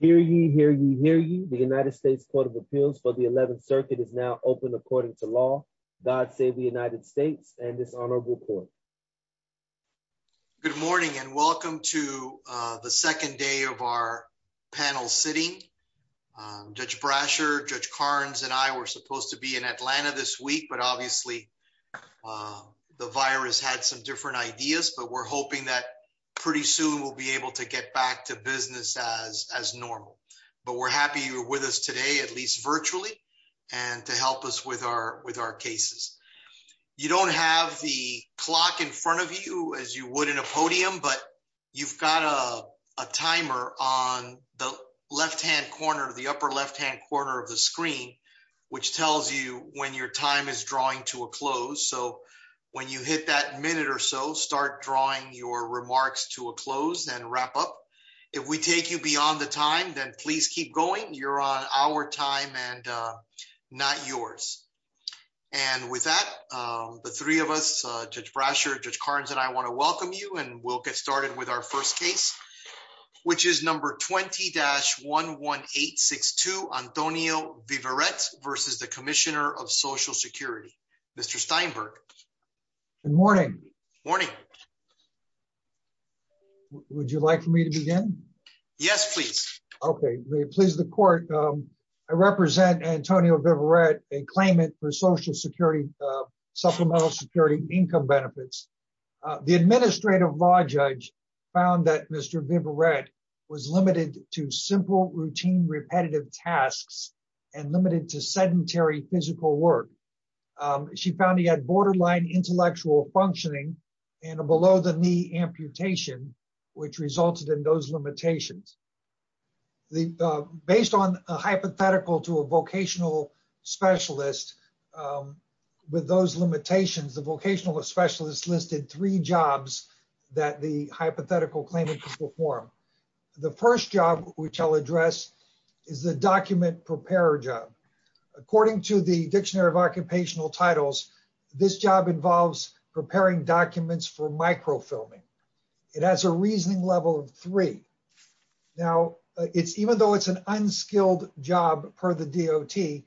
Hear ye, hear ye, hear ye. The United States Court of Appeals for the 11th Circuit is now open according to law. God save the United States and this honorable court. Good morning and welcome to the second day of our panel sitting. Judge Brasher, Judge Carnes and I were supposed to be in Atlanta this week, but obviously the virus had some different ideas, but we're hoping that pretty soon we'll be able to get back to business as as normal. But we're happy you're with us today, at least virtually and to help us with our with our cases. You don't have the clock in front of you as you would in a podium, but you've got a timer on the left hand corner of the upper left hand corner of the screen, which tells you when your time is drawing to a close. So when you hit that minute or so, start drawing your remarks to a close and wrap up. If we take you beyond the time, then please keep going. You're on our time and not yours. And with that, the three of us, Judge Brasher, Judge Carnes and I want to welcome you and we'll get started with our first case, which is number 20 dash 11862 Antonio Viverette versus the Commissioner of Social Security, Mr Steinberg. Good morning. Morning. Would you like me to begin. Yes, please. Okay, please the court. I represent Antonio Viverette a claimant for Social Security supplemental security income benefits. The administrative law judge found that Mr Viverette was limited to simple routine repetitive tasks and limited to sedentary physical work. She found he had borderline intellectual functioning and a below the knee amputation, which resulted in those limitations. Based on a hypothetical to a vocational specialist, with those limitations, the vocational specialist listed three jobs that the hypothetical claimant could perform. The first job, which I'll address is the document preparer job. According to the Dictionary of Occupational Titles, this job involves preparing documents for microfilming. It has a reasoning level of three. Now, it's even though it's an unskilled job per the DOT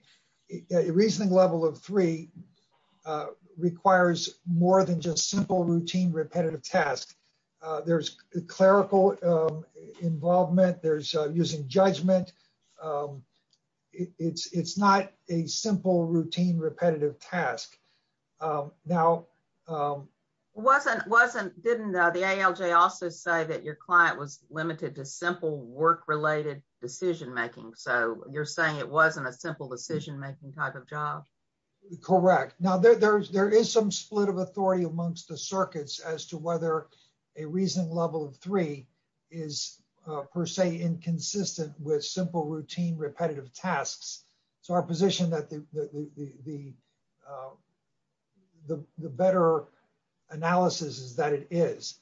reasoning level of three requires more than just simple routine repetitive tasks. There's clerical involvement, there's using judgment. It's not a simple routine repetitive task. Now, wasn't wasn't didn't the ALJ also say that your client was limited to simple work related decision making so you're saying it wasn't a simple decision making type of job. Correct. Now there's there is some split of authority amongst the circuits as to whether a reason level of three is per se inconsistent with simple routine repetitive tasks. So our position that the, the, the, the better analysis is that it is.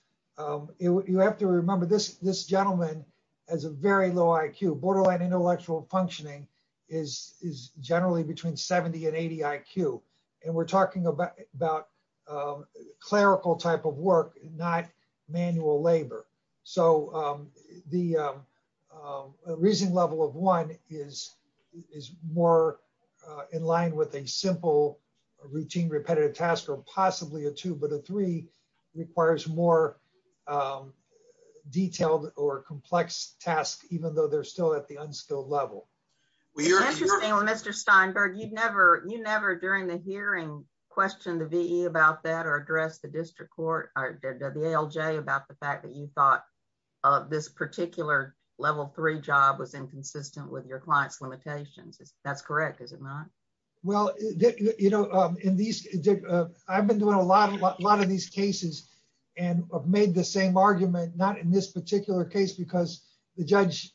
You have to remember this, this gentleman has a very low IQ borderline intellectual functioning is is generally between 70 and 80 IQ, and we're talking about about clerical type of work, not manual labor. So, the reason level of one is, is more in line with a simple routine repetitive task or possibly a two but a three requires more detailed or complex tasks, even though they're still at the unskilled level. Mr Steinberg you'd never you never during the hearing question the V about that or address the district court, or the ALJ about the fact that you thought of this particular level three job was inconsistent with your clients limitations. That's correct, is it not. Well, you know, in these. I've been doing a lot of a lot of these cases, and I've made the same argument, not in this particular case because the judge.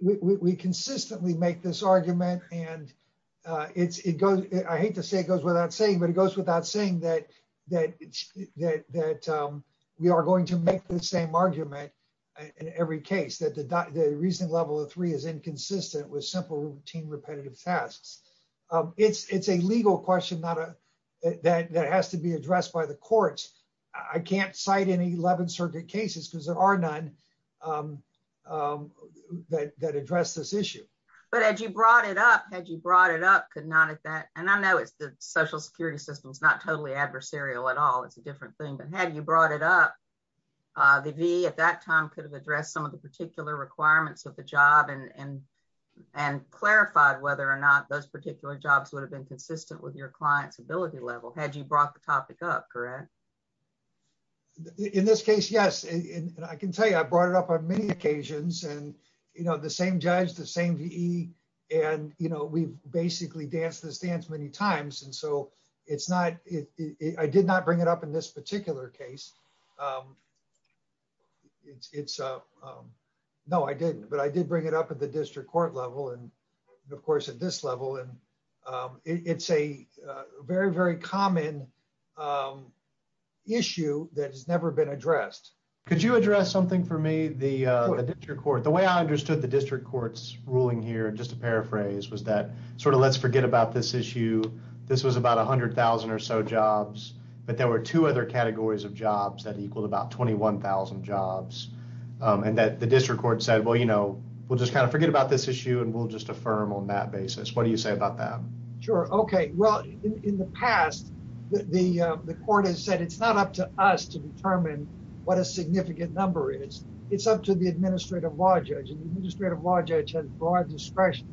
We consistently make this argument, and it's it goes, I hate to say it goes without saying but it goes without saying that, that, that we are going to make the same argument. In every case that the recent level of three is inconsistent with simple routine repetitive tasks. It's, it's a legal question not a that has to be addressed by the courts. I can't cite any 11 circuit cases because there are none that address this issue. But as you brought it up, had you brought it up could not have that, and I know it's the social security system is not totally adversarial at all. It's a different thing but had you brought it up. The V at that time could have addressed some of the particular requirements of the job and and clarified whether or not those particular jobs would have been consistent with your clients ability level had you brought the topic up correct. In this case, yes, and I can tell you I brought it up on many occasions and, you know, the same judge the same V. And, you know, we've basically danced this dance many times and so it's not it, I did not bring it up in this particular case. It's up. No, I didn't, but I did bring it up at the district court level and, of course, at this level and it's a very very common issue that has never been addressed. Could you address something for me the court the way I understood the district courts ruling here just to paraphrase was that sort of let's forget about this issue. This was about 100,000 or so jobs, but there were two other categories of jobs that equal to about 21,000 jobs, and that the district court said well you know we'll just kind of forget about this issue and we'll just affirm on that basis. What do you say about that. Sure. Okay. Well, in the past, the, the court has said it's not up to us to determine what a significant number is, it's up to the administrative law judge and administrative law judge and broad discretion.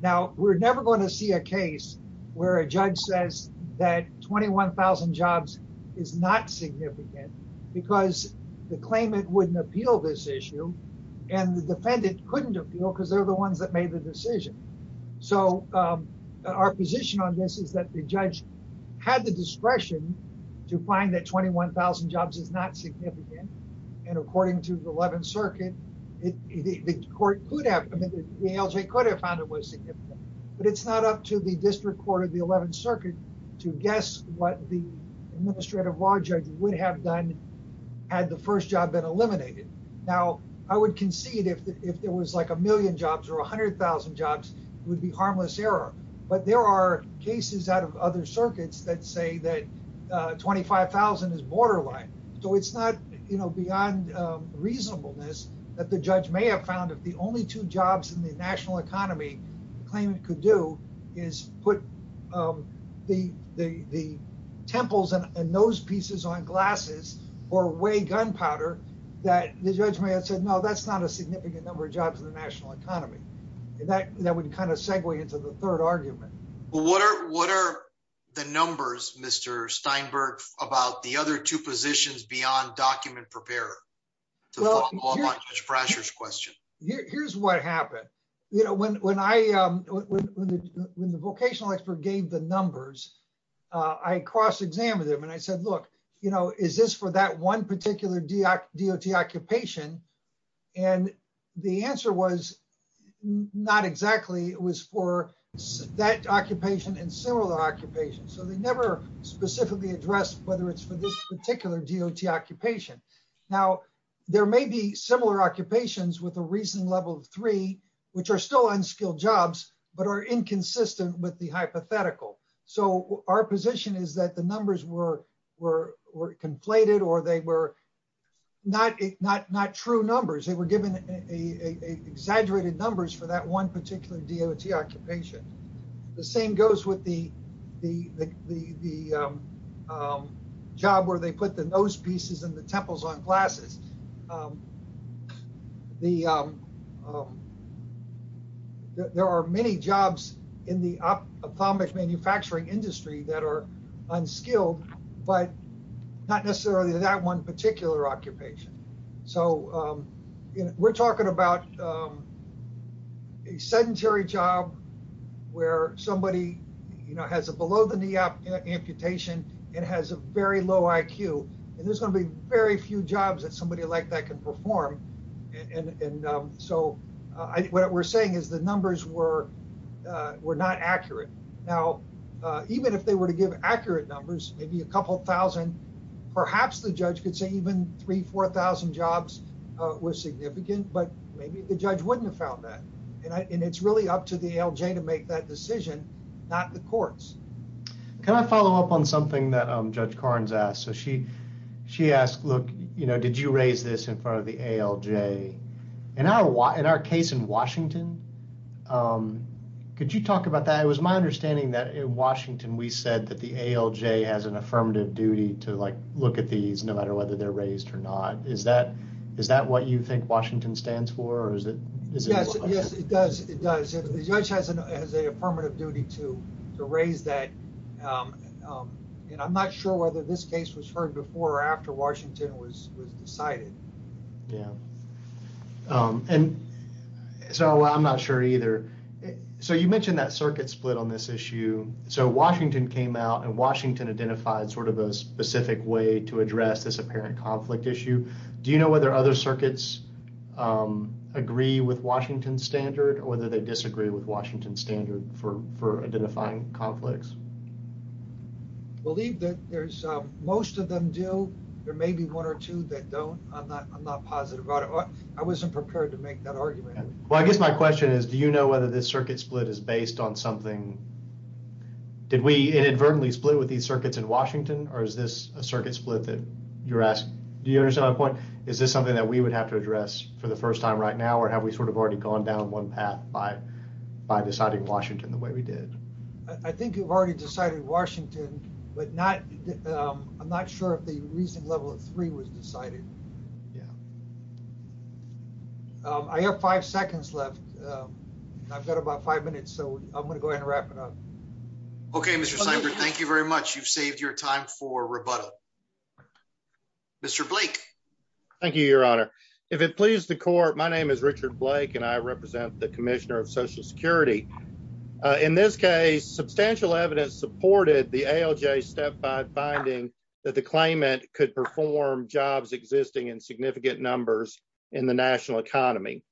Now, we're never going to see a case where a judge says that 21,000 jobs is not significant, because the claimant wouldn't appeal this issue, and the defendant couldn't appeal because they're the ones that made the decision. So, our position on this is that the judge had the discretion to find that 21,000 jobs is not significant. And according to the 11th circuit. The court could have found it was significant, but it's not up to the district court of the 11th circuit to guess what the administrative law judge would have done had the first job been eliminated. Now, I would concede if there was like a million jobs or 100,000 jobs would be harmless error, but there are cases out of other circuits that say that 25,000 is borderline. So, it's not, you know, beyond reasonableness that the judge may have found if the only two jobs in the national economy claim it could do is put the, the, the temples and those pieces on glasses or way gunpowder that the judge may have said no, that's not a significant number of jobs in the national economy. That would kind of segue into the third argument. What are the numbers Mr Steinberg about the other two positions beyond document preparer pressures question. Here's what happened. You know, when, when I, when the vocational expert gave the numbers. I cross examine them and I said, look, you know, is this for that one particular dot dot occupation. And the answer was not exactly was for that occupation and similar occupation so they never specifically address, whether it's for this particular dot occupation. Now, there may be similar occupations with a reason level three, which are still unskilled jobs, but are inconsistent with the hypothetical. So, our position is that the numbers were were were conflated or they were not not not true numbers they were given a exaggerated numbers for that one particular dot occupation. The same goes with the, the, the, the job where they put the nose pieces and the temples on glasses. The. There are many jobs in the op atomic manufacturing industry that are unskilled, but not necessarily that one particular occupation. So, we're talking about a sedentary job where somebody, you know, has a below the knee up amputation and has a very low IQ, and there's gonna be very few jobs that somebody like that can perform. And so what we're saying is the numbers were were not accurate. Now, even if they were to give accurate numbers, maybe a couple thousand. Perhaps the judge could say even three 4000 jobs were significant but maybe the judge wouldn't have found that. And it's really up to the LJ to make that decision, not the courts. Can I follow up on something that I'm Judge Carnes asked so she, she asked, Look, you know, did you raise this in front of the LJ, and I want in our case in Washington. Could you talk about that it was my understanding that in Washington, we said that the LJ has an affirmative duty to like, look at these no matter whether they're raised or not, is that, is that what you think Washington stands for is it. Yes, it does, it does. The judge has a permanent duty to raise that. And I'm not sure whether this case was heard before or after Washington was was decided. Yeah. And so I'm not sure either. So you mentioned that circuit split on this issue. So Washington came out and Washington identified sort of a specific way to address this apparent conflict issue. Do you know whether other circuits agree with Washington standard or whether they disagree with Washington standard for for identifying conflicts. Believe that there's most of them do. There may be one or two that don't, I'm not I'm not positive about it. I wasn't prepared to make that argument. Well, I guess my question is, do you know whether this circuit split is based on something. Did we inadvertently split with these circuits in Washington, or is this a circuit split that you're asking. Do you understand my point. Is this something that we would have to address for the first time right now or have we sort of already gone down one path by by deciding Washington the way we did. I think you've already decided Washington, but not. I'm not sure if the reason level three was decided. Yeah. I have five seconds left. I've got about five minutes so I'm going to go ahead and wrap it up. Okay, Mr. Thank you very much. You've saved your time for rebuttal. Mr. Blake. Thank you, Your Honor. If it pleases the court, my name is Richard Blake and I represent the Commissioner of Social Security. In this case, substantial evidence supported the ALJ step by finding that the claimant could perform jobs existing in significant numbers in the national economy.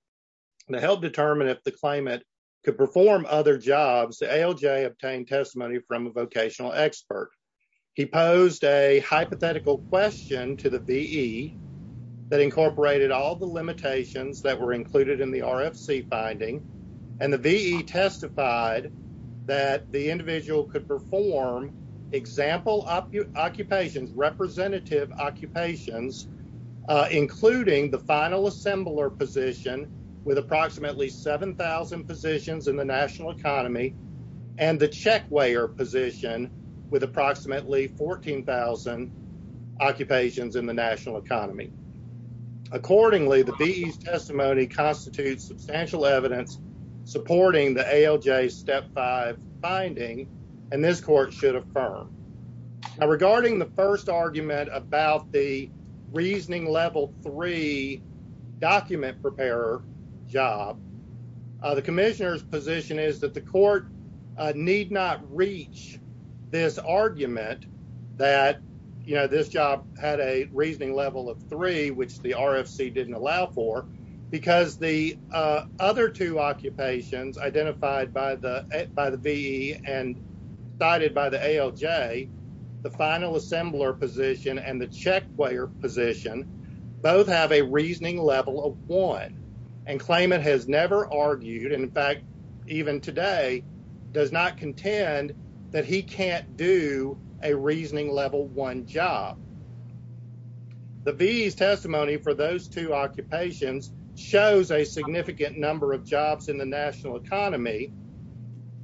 The help determine if the claimant could perform other jobs, the ALJ obtained testimony from a vocational expert. He posed a hypothetical question to the VE that incorporated all the limitations that were included in the RFC finding and the VE testified that the individual could perform example occupations representative occupations, including the final assembler position with approximately 7000 positions in the national economy. And the check where position with approximately 14,000 occupations in the national economy. Accordingly, the VE testimony constitutes substantial evidence supporting the ALJ step by finding and this court should affirm. Regarding the first argument about the reasoning level three document preparer job, the commissioner's position is that the court need not reach this argument that, you know, this job had a reasoning level of three, which the RFC didn't allow for. Because the other two occupations identified by the by the VE and cited by the ALJ, the final assembler position and the check where position both have a reasoning level of one and claimant has never argued. In fact, even today does not contend that he can't do a reasoning level one job. The VE's testimony for those two occupations shows a significant number of jobs in the national economy.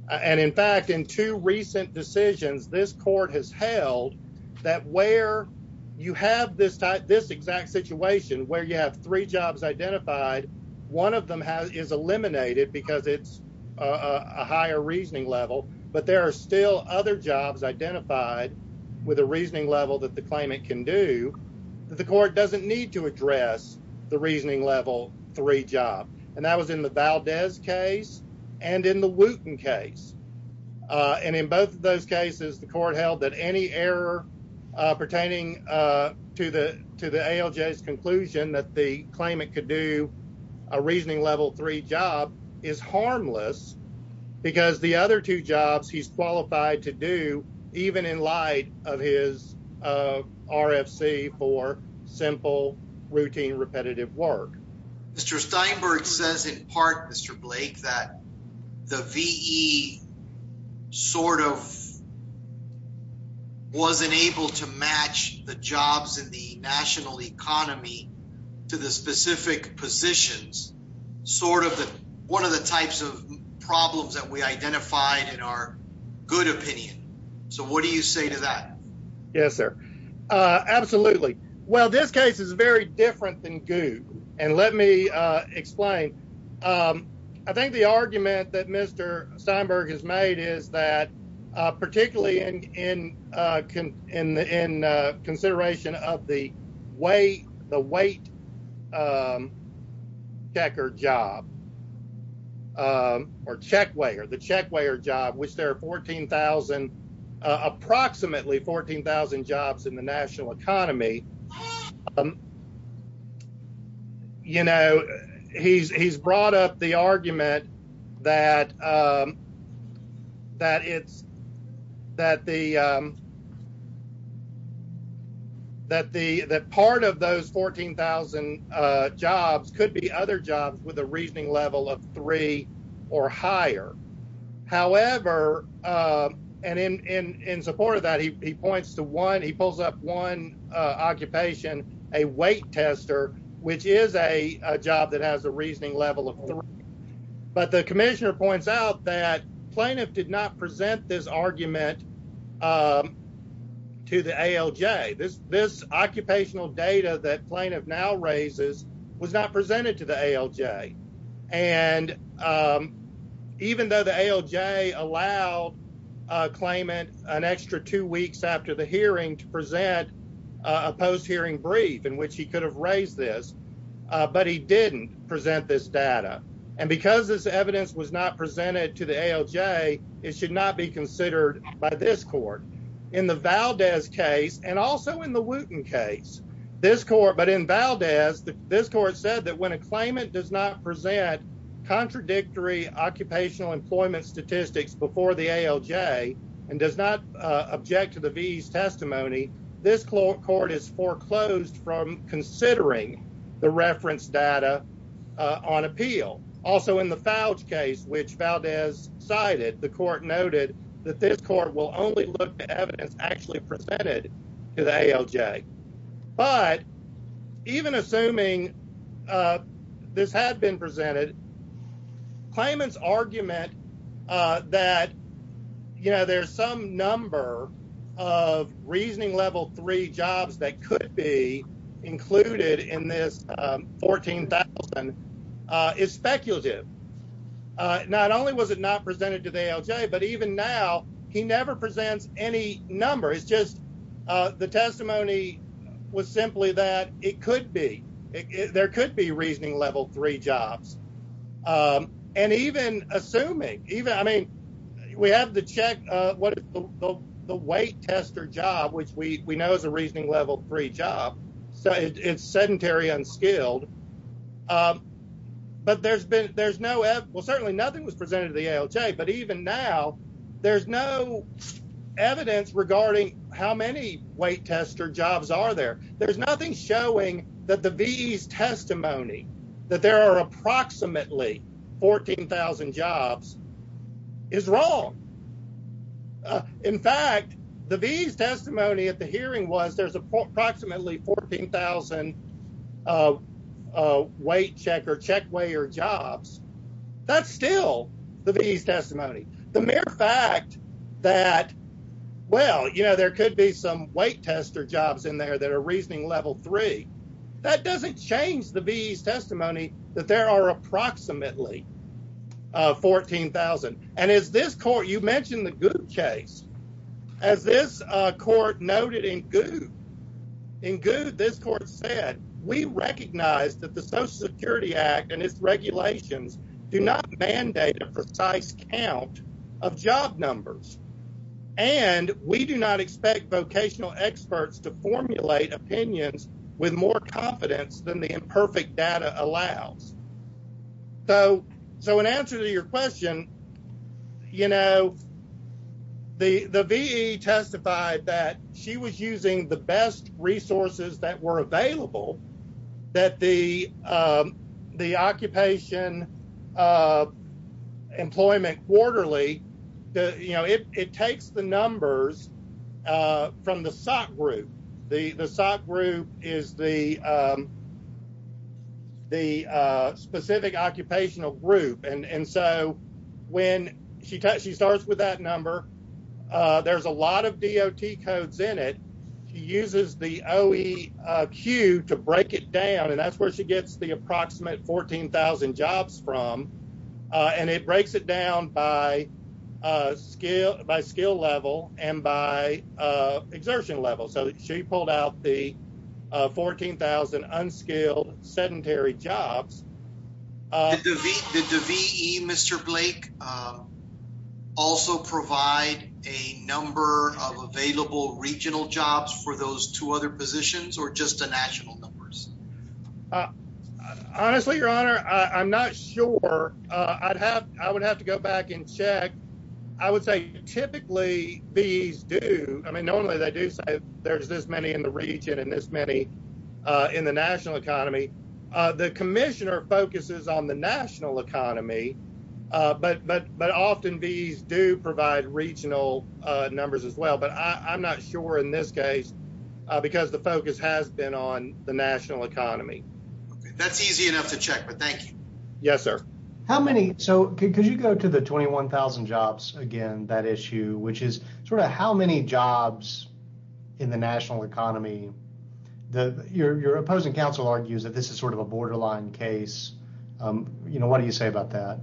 And in fact, in two recent decisions, this court has held that where you have this type, this exact situation where you have three jobs identified. One of them is eliminated because it's a higher reasoning level. But there are still other jobs identified with a reasoning level that the claimant can do. The court doesn't need to address the reasoning level three job, and that was in the Valdez case and in the Wooten case. And in both of those cases, the court held that any error pertaining to the to the ALJ's conclusion that the claimant could do a reasoning level three job is harmless because the other two jobs he's qualified to do, even in light of his RFC for simple, routine, repetitive work. Mr. Steinberg says in part, Mr. Blake, that the VE sort of wasn't able to match the jobs in the national economy to the specific positions, sort of one of the types of problems that we identified in our good opinion. So what do you say to that? Yes, sir. Absolutely. Well, this case is very different than good. And let me explain. I think the argument that Mr. Steinberg has made is that particularly in in in in consideration of the way the weight checker job. Or check way or the check way or job, which there are fourteen thousand approximately fourteen thousand jobs in the national economy. You know, he's he's brought up the argument that. That it's that the. That the that part of those fourteen thousand jobs could be other jobs with a reasoning level of three or higher. However, and in in in support of that, he points to one, he pulls up one occupation, a weight tester, which is a job that has a reasoning level of. But the commissioner points out that plaintiff did not present this argument to the ALJ. This this occupational data that plaintiff now raises was not presented to the ALJ. And even though the ALJ allowed claimant an extra two weeks after the hearing to present a post hearing brief in which he could have raised this, but he didn't present this data. And because this evidence was not presented to the ALJ, it should not be considered by this court in the Valdez case and also in the Wooten case. This court, but in Valdez, this court said that when a claimant does not present contradictory occupational employment statistics before the ALJ and does not object to the V's testimony. This court is foreclosed from considering the reference data on appeal. Also, in the Falch case, which Valdez cited, the court noted that this court will only look at evidence actually presented to the ALJ. But even assuming this had been presented, claimant's argument that, you know, there's some number of reasoning level three jobs that could be included in this 14000 is speculative. Not only was it not presented to the ALJ, but even now he never presents any number. It's just the testimony was simply that it could be there could be reasoning level three jobs. And even assuming even I mean, we have to check what the weight tester job, which we know is a reasoning level three job. So it's sedentary, unskilled, but there's been there's no well, certainly nothing was presented to the ALJ. But even now, there's no evidence regarding how many weight tester jobs are there. There's nothing showing that the V's testimony that there are approximately 14000 jobs is wrong. In fact, the V's testimony at the hearing was there's approximately 14000 weight check or check weigh your jobs. That's still the V's testimony. The mere fact that, well, you know, there could be some weight tester jobs in there that are reasoning level three. That doesn't change the V's testimony that there are approximately 14000. And as this court, you mentioned the good case, as this court noted in good and good. This court said, we recognize that the Social Security Act and its regulations do not mandate a precise count of job numbers. And we do not expect vocational experts to formulate opinions with more confidence than the imperfect data allows. So so in answer to your question, you know. The VE testified that she was using the best resources that were available, that the the occupation employment quarterly. You know, it takes the numbers from the SOC group. The SOC group is the. The specific occupational group. And so when she she starts with that number, there's a lot of D.O.T. codes in it. She uses the OEQ to break it down. And that's where she gets the approximate 14000 jobs from. And it breaks it down by skill by skill level and by exertion level. So she pulled out the 14000 unskilled sedentary jobs. Did the VE, Mr. Blake, also provide a number of available regional jobs for those two other positions or just a national numbers? Honestly, your honor, I'm not sure I'd have I would have to go back and check. I would say typically these do. I mean, normally they do say there's this many in the region and this many in the national economy. The commissioner focuses on the national economy. But but but often these do provide regional numbers as well. But I'm not sure in this case, because the focus has been on the national economy. That's easy enough to check. But thank you. Yes, sir. How many. So could you go to the twenty one thousand jobs again? That issue, which is sort of how many jobs in the national economy that you're opposing? Counsel argues that this is sort of a borderline case. You know, what do you say about that?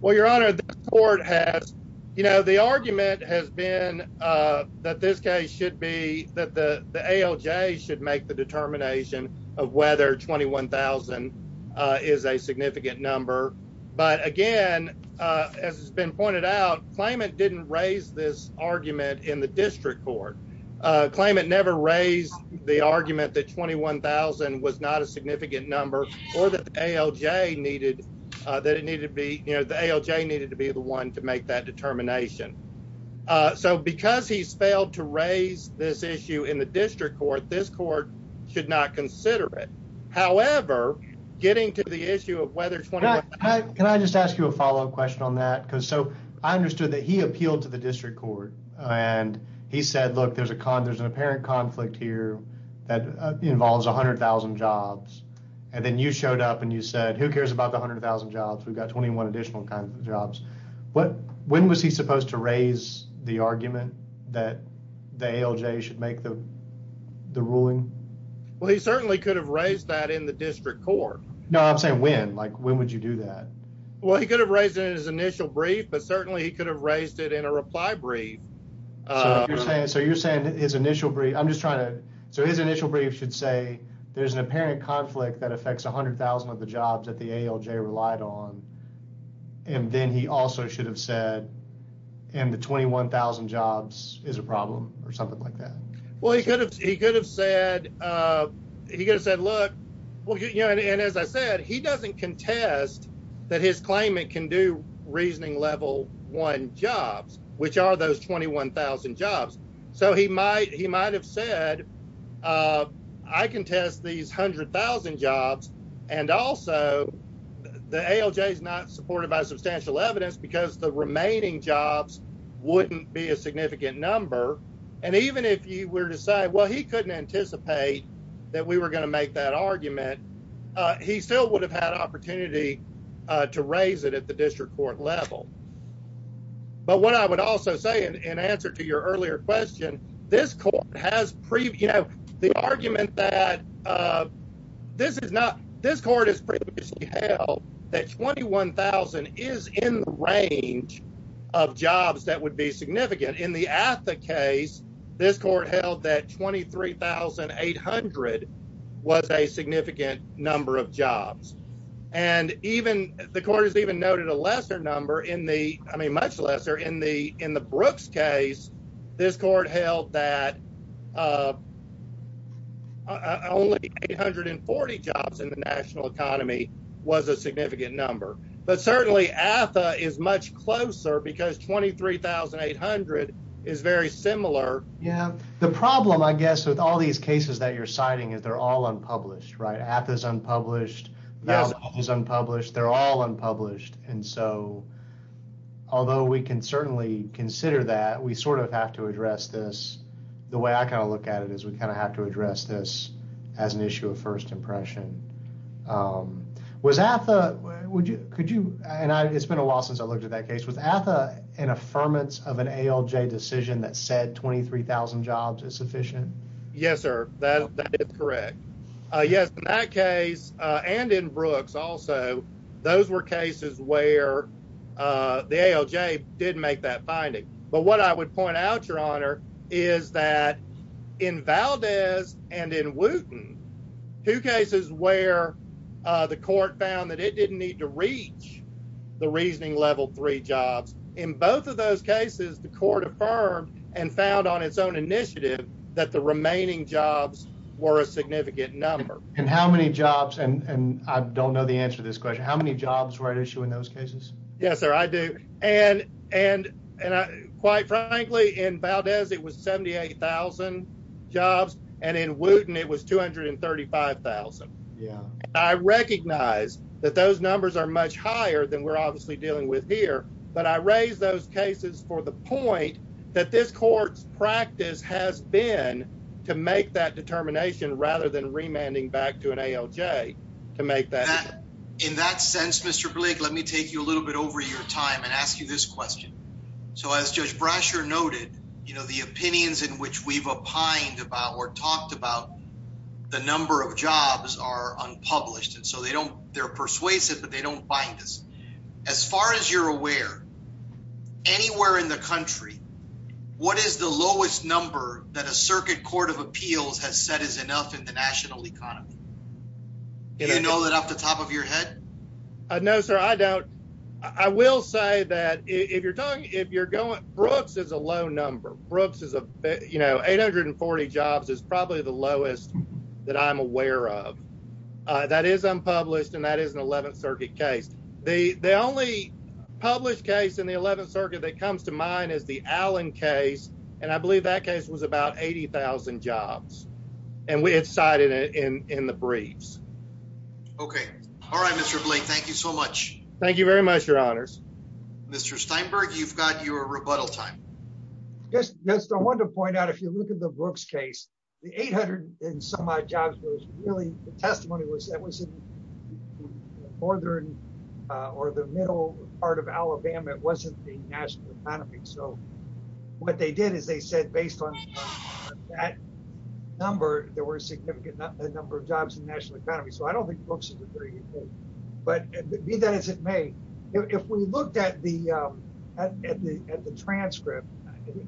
Well, your honor, the court has, you know, the argument has been that this guy should be that the ALJ should make the determination of whether twenty one thousand is a significant number. But again, as it's been pointed out, claimant didn't raise this argument in the district court. Claimant never raised the argument that twenty one thousand was not a significant number or that ALJ needed that. It needed to be the ALJ needed to be the one to make that determination. So because he's failed to raise this issue in the district court, this court should not consider it. However, getting to the issue of whether. Can I just ask you a follow up question on that? Because so I understood that he appealed to the district court and he said, look, there's a there's an apparent conflict here that involves one hundred thousand jobs. And then you showed up and you said, who cares about one hundred thousand jobs? We've got twenty one additional kinds of jobs. But when was he supposed to raise the argument that the ALJ should make the ruling? Well, he certainly could have raised that in the district court. No, I'm saying when like when would you do that? Well, he could have raised it in his initial brief, but certainly he could have raised it in a reply brief. So you're saying his initial brief. I'm just trying to. So his initial brief should say there's an apparent conflict that affects one hundred thousand of the jobs that the ALJ relied on. And then he also should have said and the twenty one thousand jobs is a problem or something like that. Well, he could have he could have said he could have said, look, well, you know, and as I said, he doesn't contest that his claimant can do reasoning level one jobs, which are those twenty one thousand jobs. So he might he might have said, I can test these hundred thousand jobs. And also the ALJ is not supported by substantial evidence because the remaining jobs wouldn't be a significant number. And even if you were to say, well, he couldn't anticipate that we were going to make that argument, he still would have had opportunity to raise it at the district court level. But what I would also say in answer to your earlier question, this court has previewed the argument that this is not. This court has previously held that twenty one thousand is in the range of jobs that would be significant in the case. This court held that twenty three thousand eight hundred was a significant number of jobs. And even the court has even noted a lesser number in the I mean, much lesser in the in the Brooks case. This court held that only eight hundred and forty jobs in the national economy was a significant number. But certainly AFA is much closer because twenty three thousand eight hundred is very similar. Yeah. The problem, I guess, with all these cases that you're citing is they're all unpublished, right? At this unpublished is unpublished. They're all unpublished. And so although we can certainly consider that, we sort of have to address this. The way I kind of look at it is we kind of have to address this as an issue of first impression. Was AFA. Would you. Could you. And it's been a while since I looked at that case with AFA, an affirmance of an ALJ decision that said twenty three thousand jobs is sufficient. Yes, sir. That is correct. Yes. In that case and in Brooks also, those were cases where the ALJ did make that finding. But what I would point out, your honor, is that in Valdez and in Wooten, two cases where the court found that it didn't need to reach the reasoning level three jobs. In both of those cases, the court affirmed and found on its own initiative that the remaining jobs were a significant number. And how many jobs? And I don't know the answer to this question. How many jobs were at issue in those cases? Yes, sir. I do. And and quite frankly, in Valdez, it was seventy eight thousand jobs. And in Wooten, it was two hundred and thirty five thousand. Yeah, I recognize that those numbers are much higher than we're obviously dealing with here. But I raise those cases for the point that this court's practice has been to make that determination rather than remanding back to an ALJ to make that. In that sense, Mr. Blake, let me take you a little bit over your time and ask you this question. So as Judge Brasher noted, you know, the opinions in which we've opined about or talked about the number of jobs are unpublished. And so they don't they're persuasive, but they don't bind us. As far as you're aware, anywhere in the country, what is the lowest number that a circuit court of appeals has said is enough in the national economy? Do you know that off the top of your head? No, sir, I don't. I will say that if you're talking, if you're going, Brooks is a low number. Brooks is, you know, eight hundred and forty jobs is probably the lowest that I'm aware of. That is unpublished and that is an 11th Circuit case. The only published case in the 11th Circuit that comes to mind is the Allen case. And I believe that case was about 80,000 jobs. And we had cited it in the briefs. OK. All right, Mr. Blake, thank you so much. Thank you very much, your honors. Mr. Steinberg, you've got your rebuttal time. Yes, I want to point out, if you look at the Brooks case, the eight hundred and some odd jobs was really the testimony was that was in northern or the middle part of Alabama. It wasn't the national economy. So what they did is they said based on that number, there were a significant number of jobs in the national economy. So I don't think Brooks is a 38. But be that as it may, if we looked at the at the at the transcript,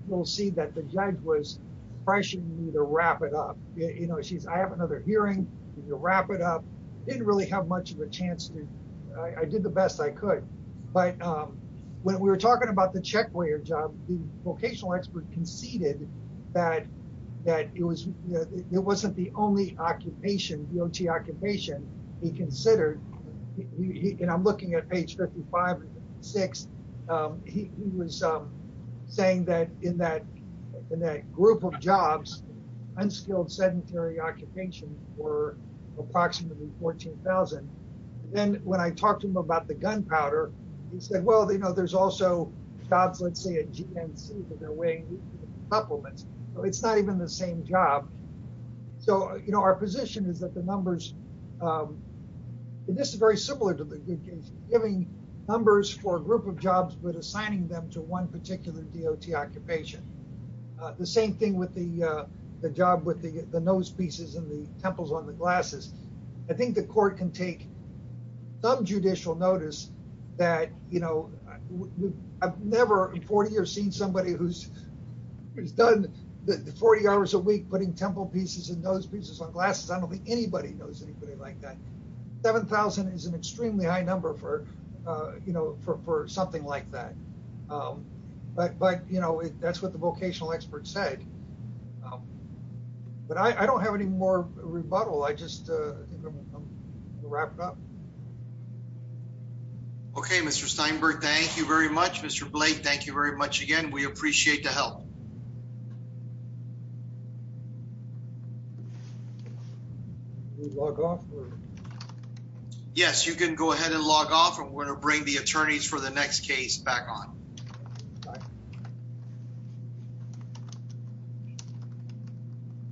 we'll see that the judge was pressuring me to wrap it up. You know, she's I have another hearing to wrap it up. Didn't really have much of a chance to. I did the best I could. But when we were talking about the check for your job, the vocational expert conceded that that it was it wasn't the only occupation, the occupation he considered. And I'm looking at page fifty five, six. He was saying that in that in that group of jobs, unskilled sedentary occupation were approximately 14000. Then when I talked to him about the gunpowder, he said, well, you know, there's also jobs, let's say a G.N.C. that they're weighing supplements. It's not even the same job. So, you know, our position is that the numbers. This is very similar to giving numbers for a group of jobs, but assigning them to one particular D.O.T. occupation. The same thing with the the job with the nose pieces and the temples on the glasses. I think the court can take some judicial notice that, you know, I've never in 40 years seen somebody who's done the 40 hours a week putting temple pieces and those pieces on glasses. I don't think anybody knows anybody like that. Seven thousand is an extremely high number for, you know, for for something like that. But but, you know, that's what the vocational expert said. But I don't have any more rebuttal. I just wrapped up. OK, Mr. Steinberg, thank you very much, Mr. Blake. Thank you very much again. We appreciate the help. Yes, you can go ahead and log off and we're going to bring the attorneys for the next case back on.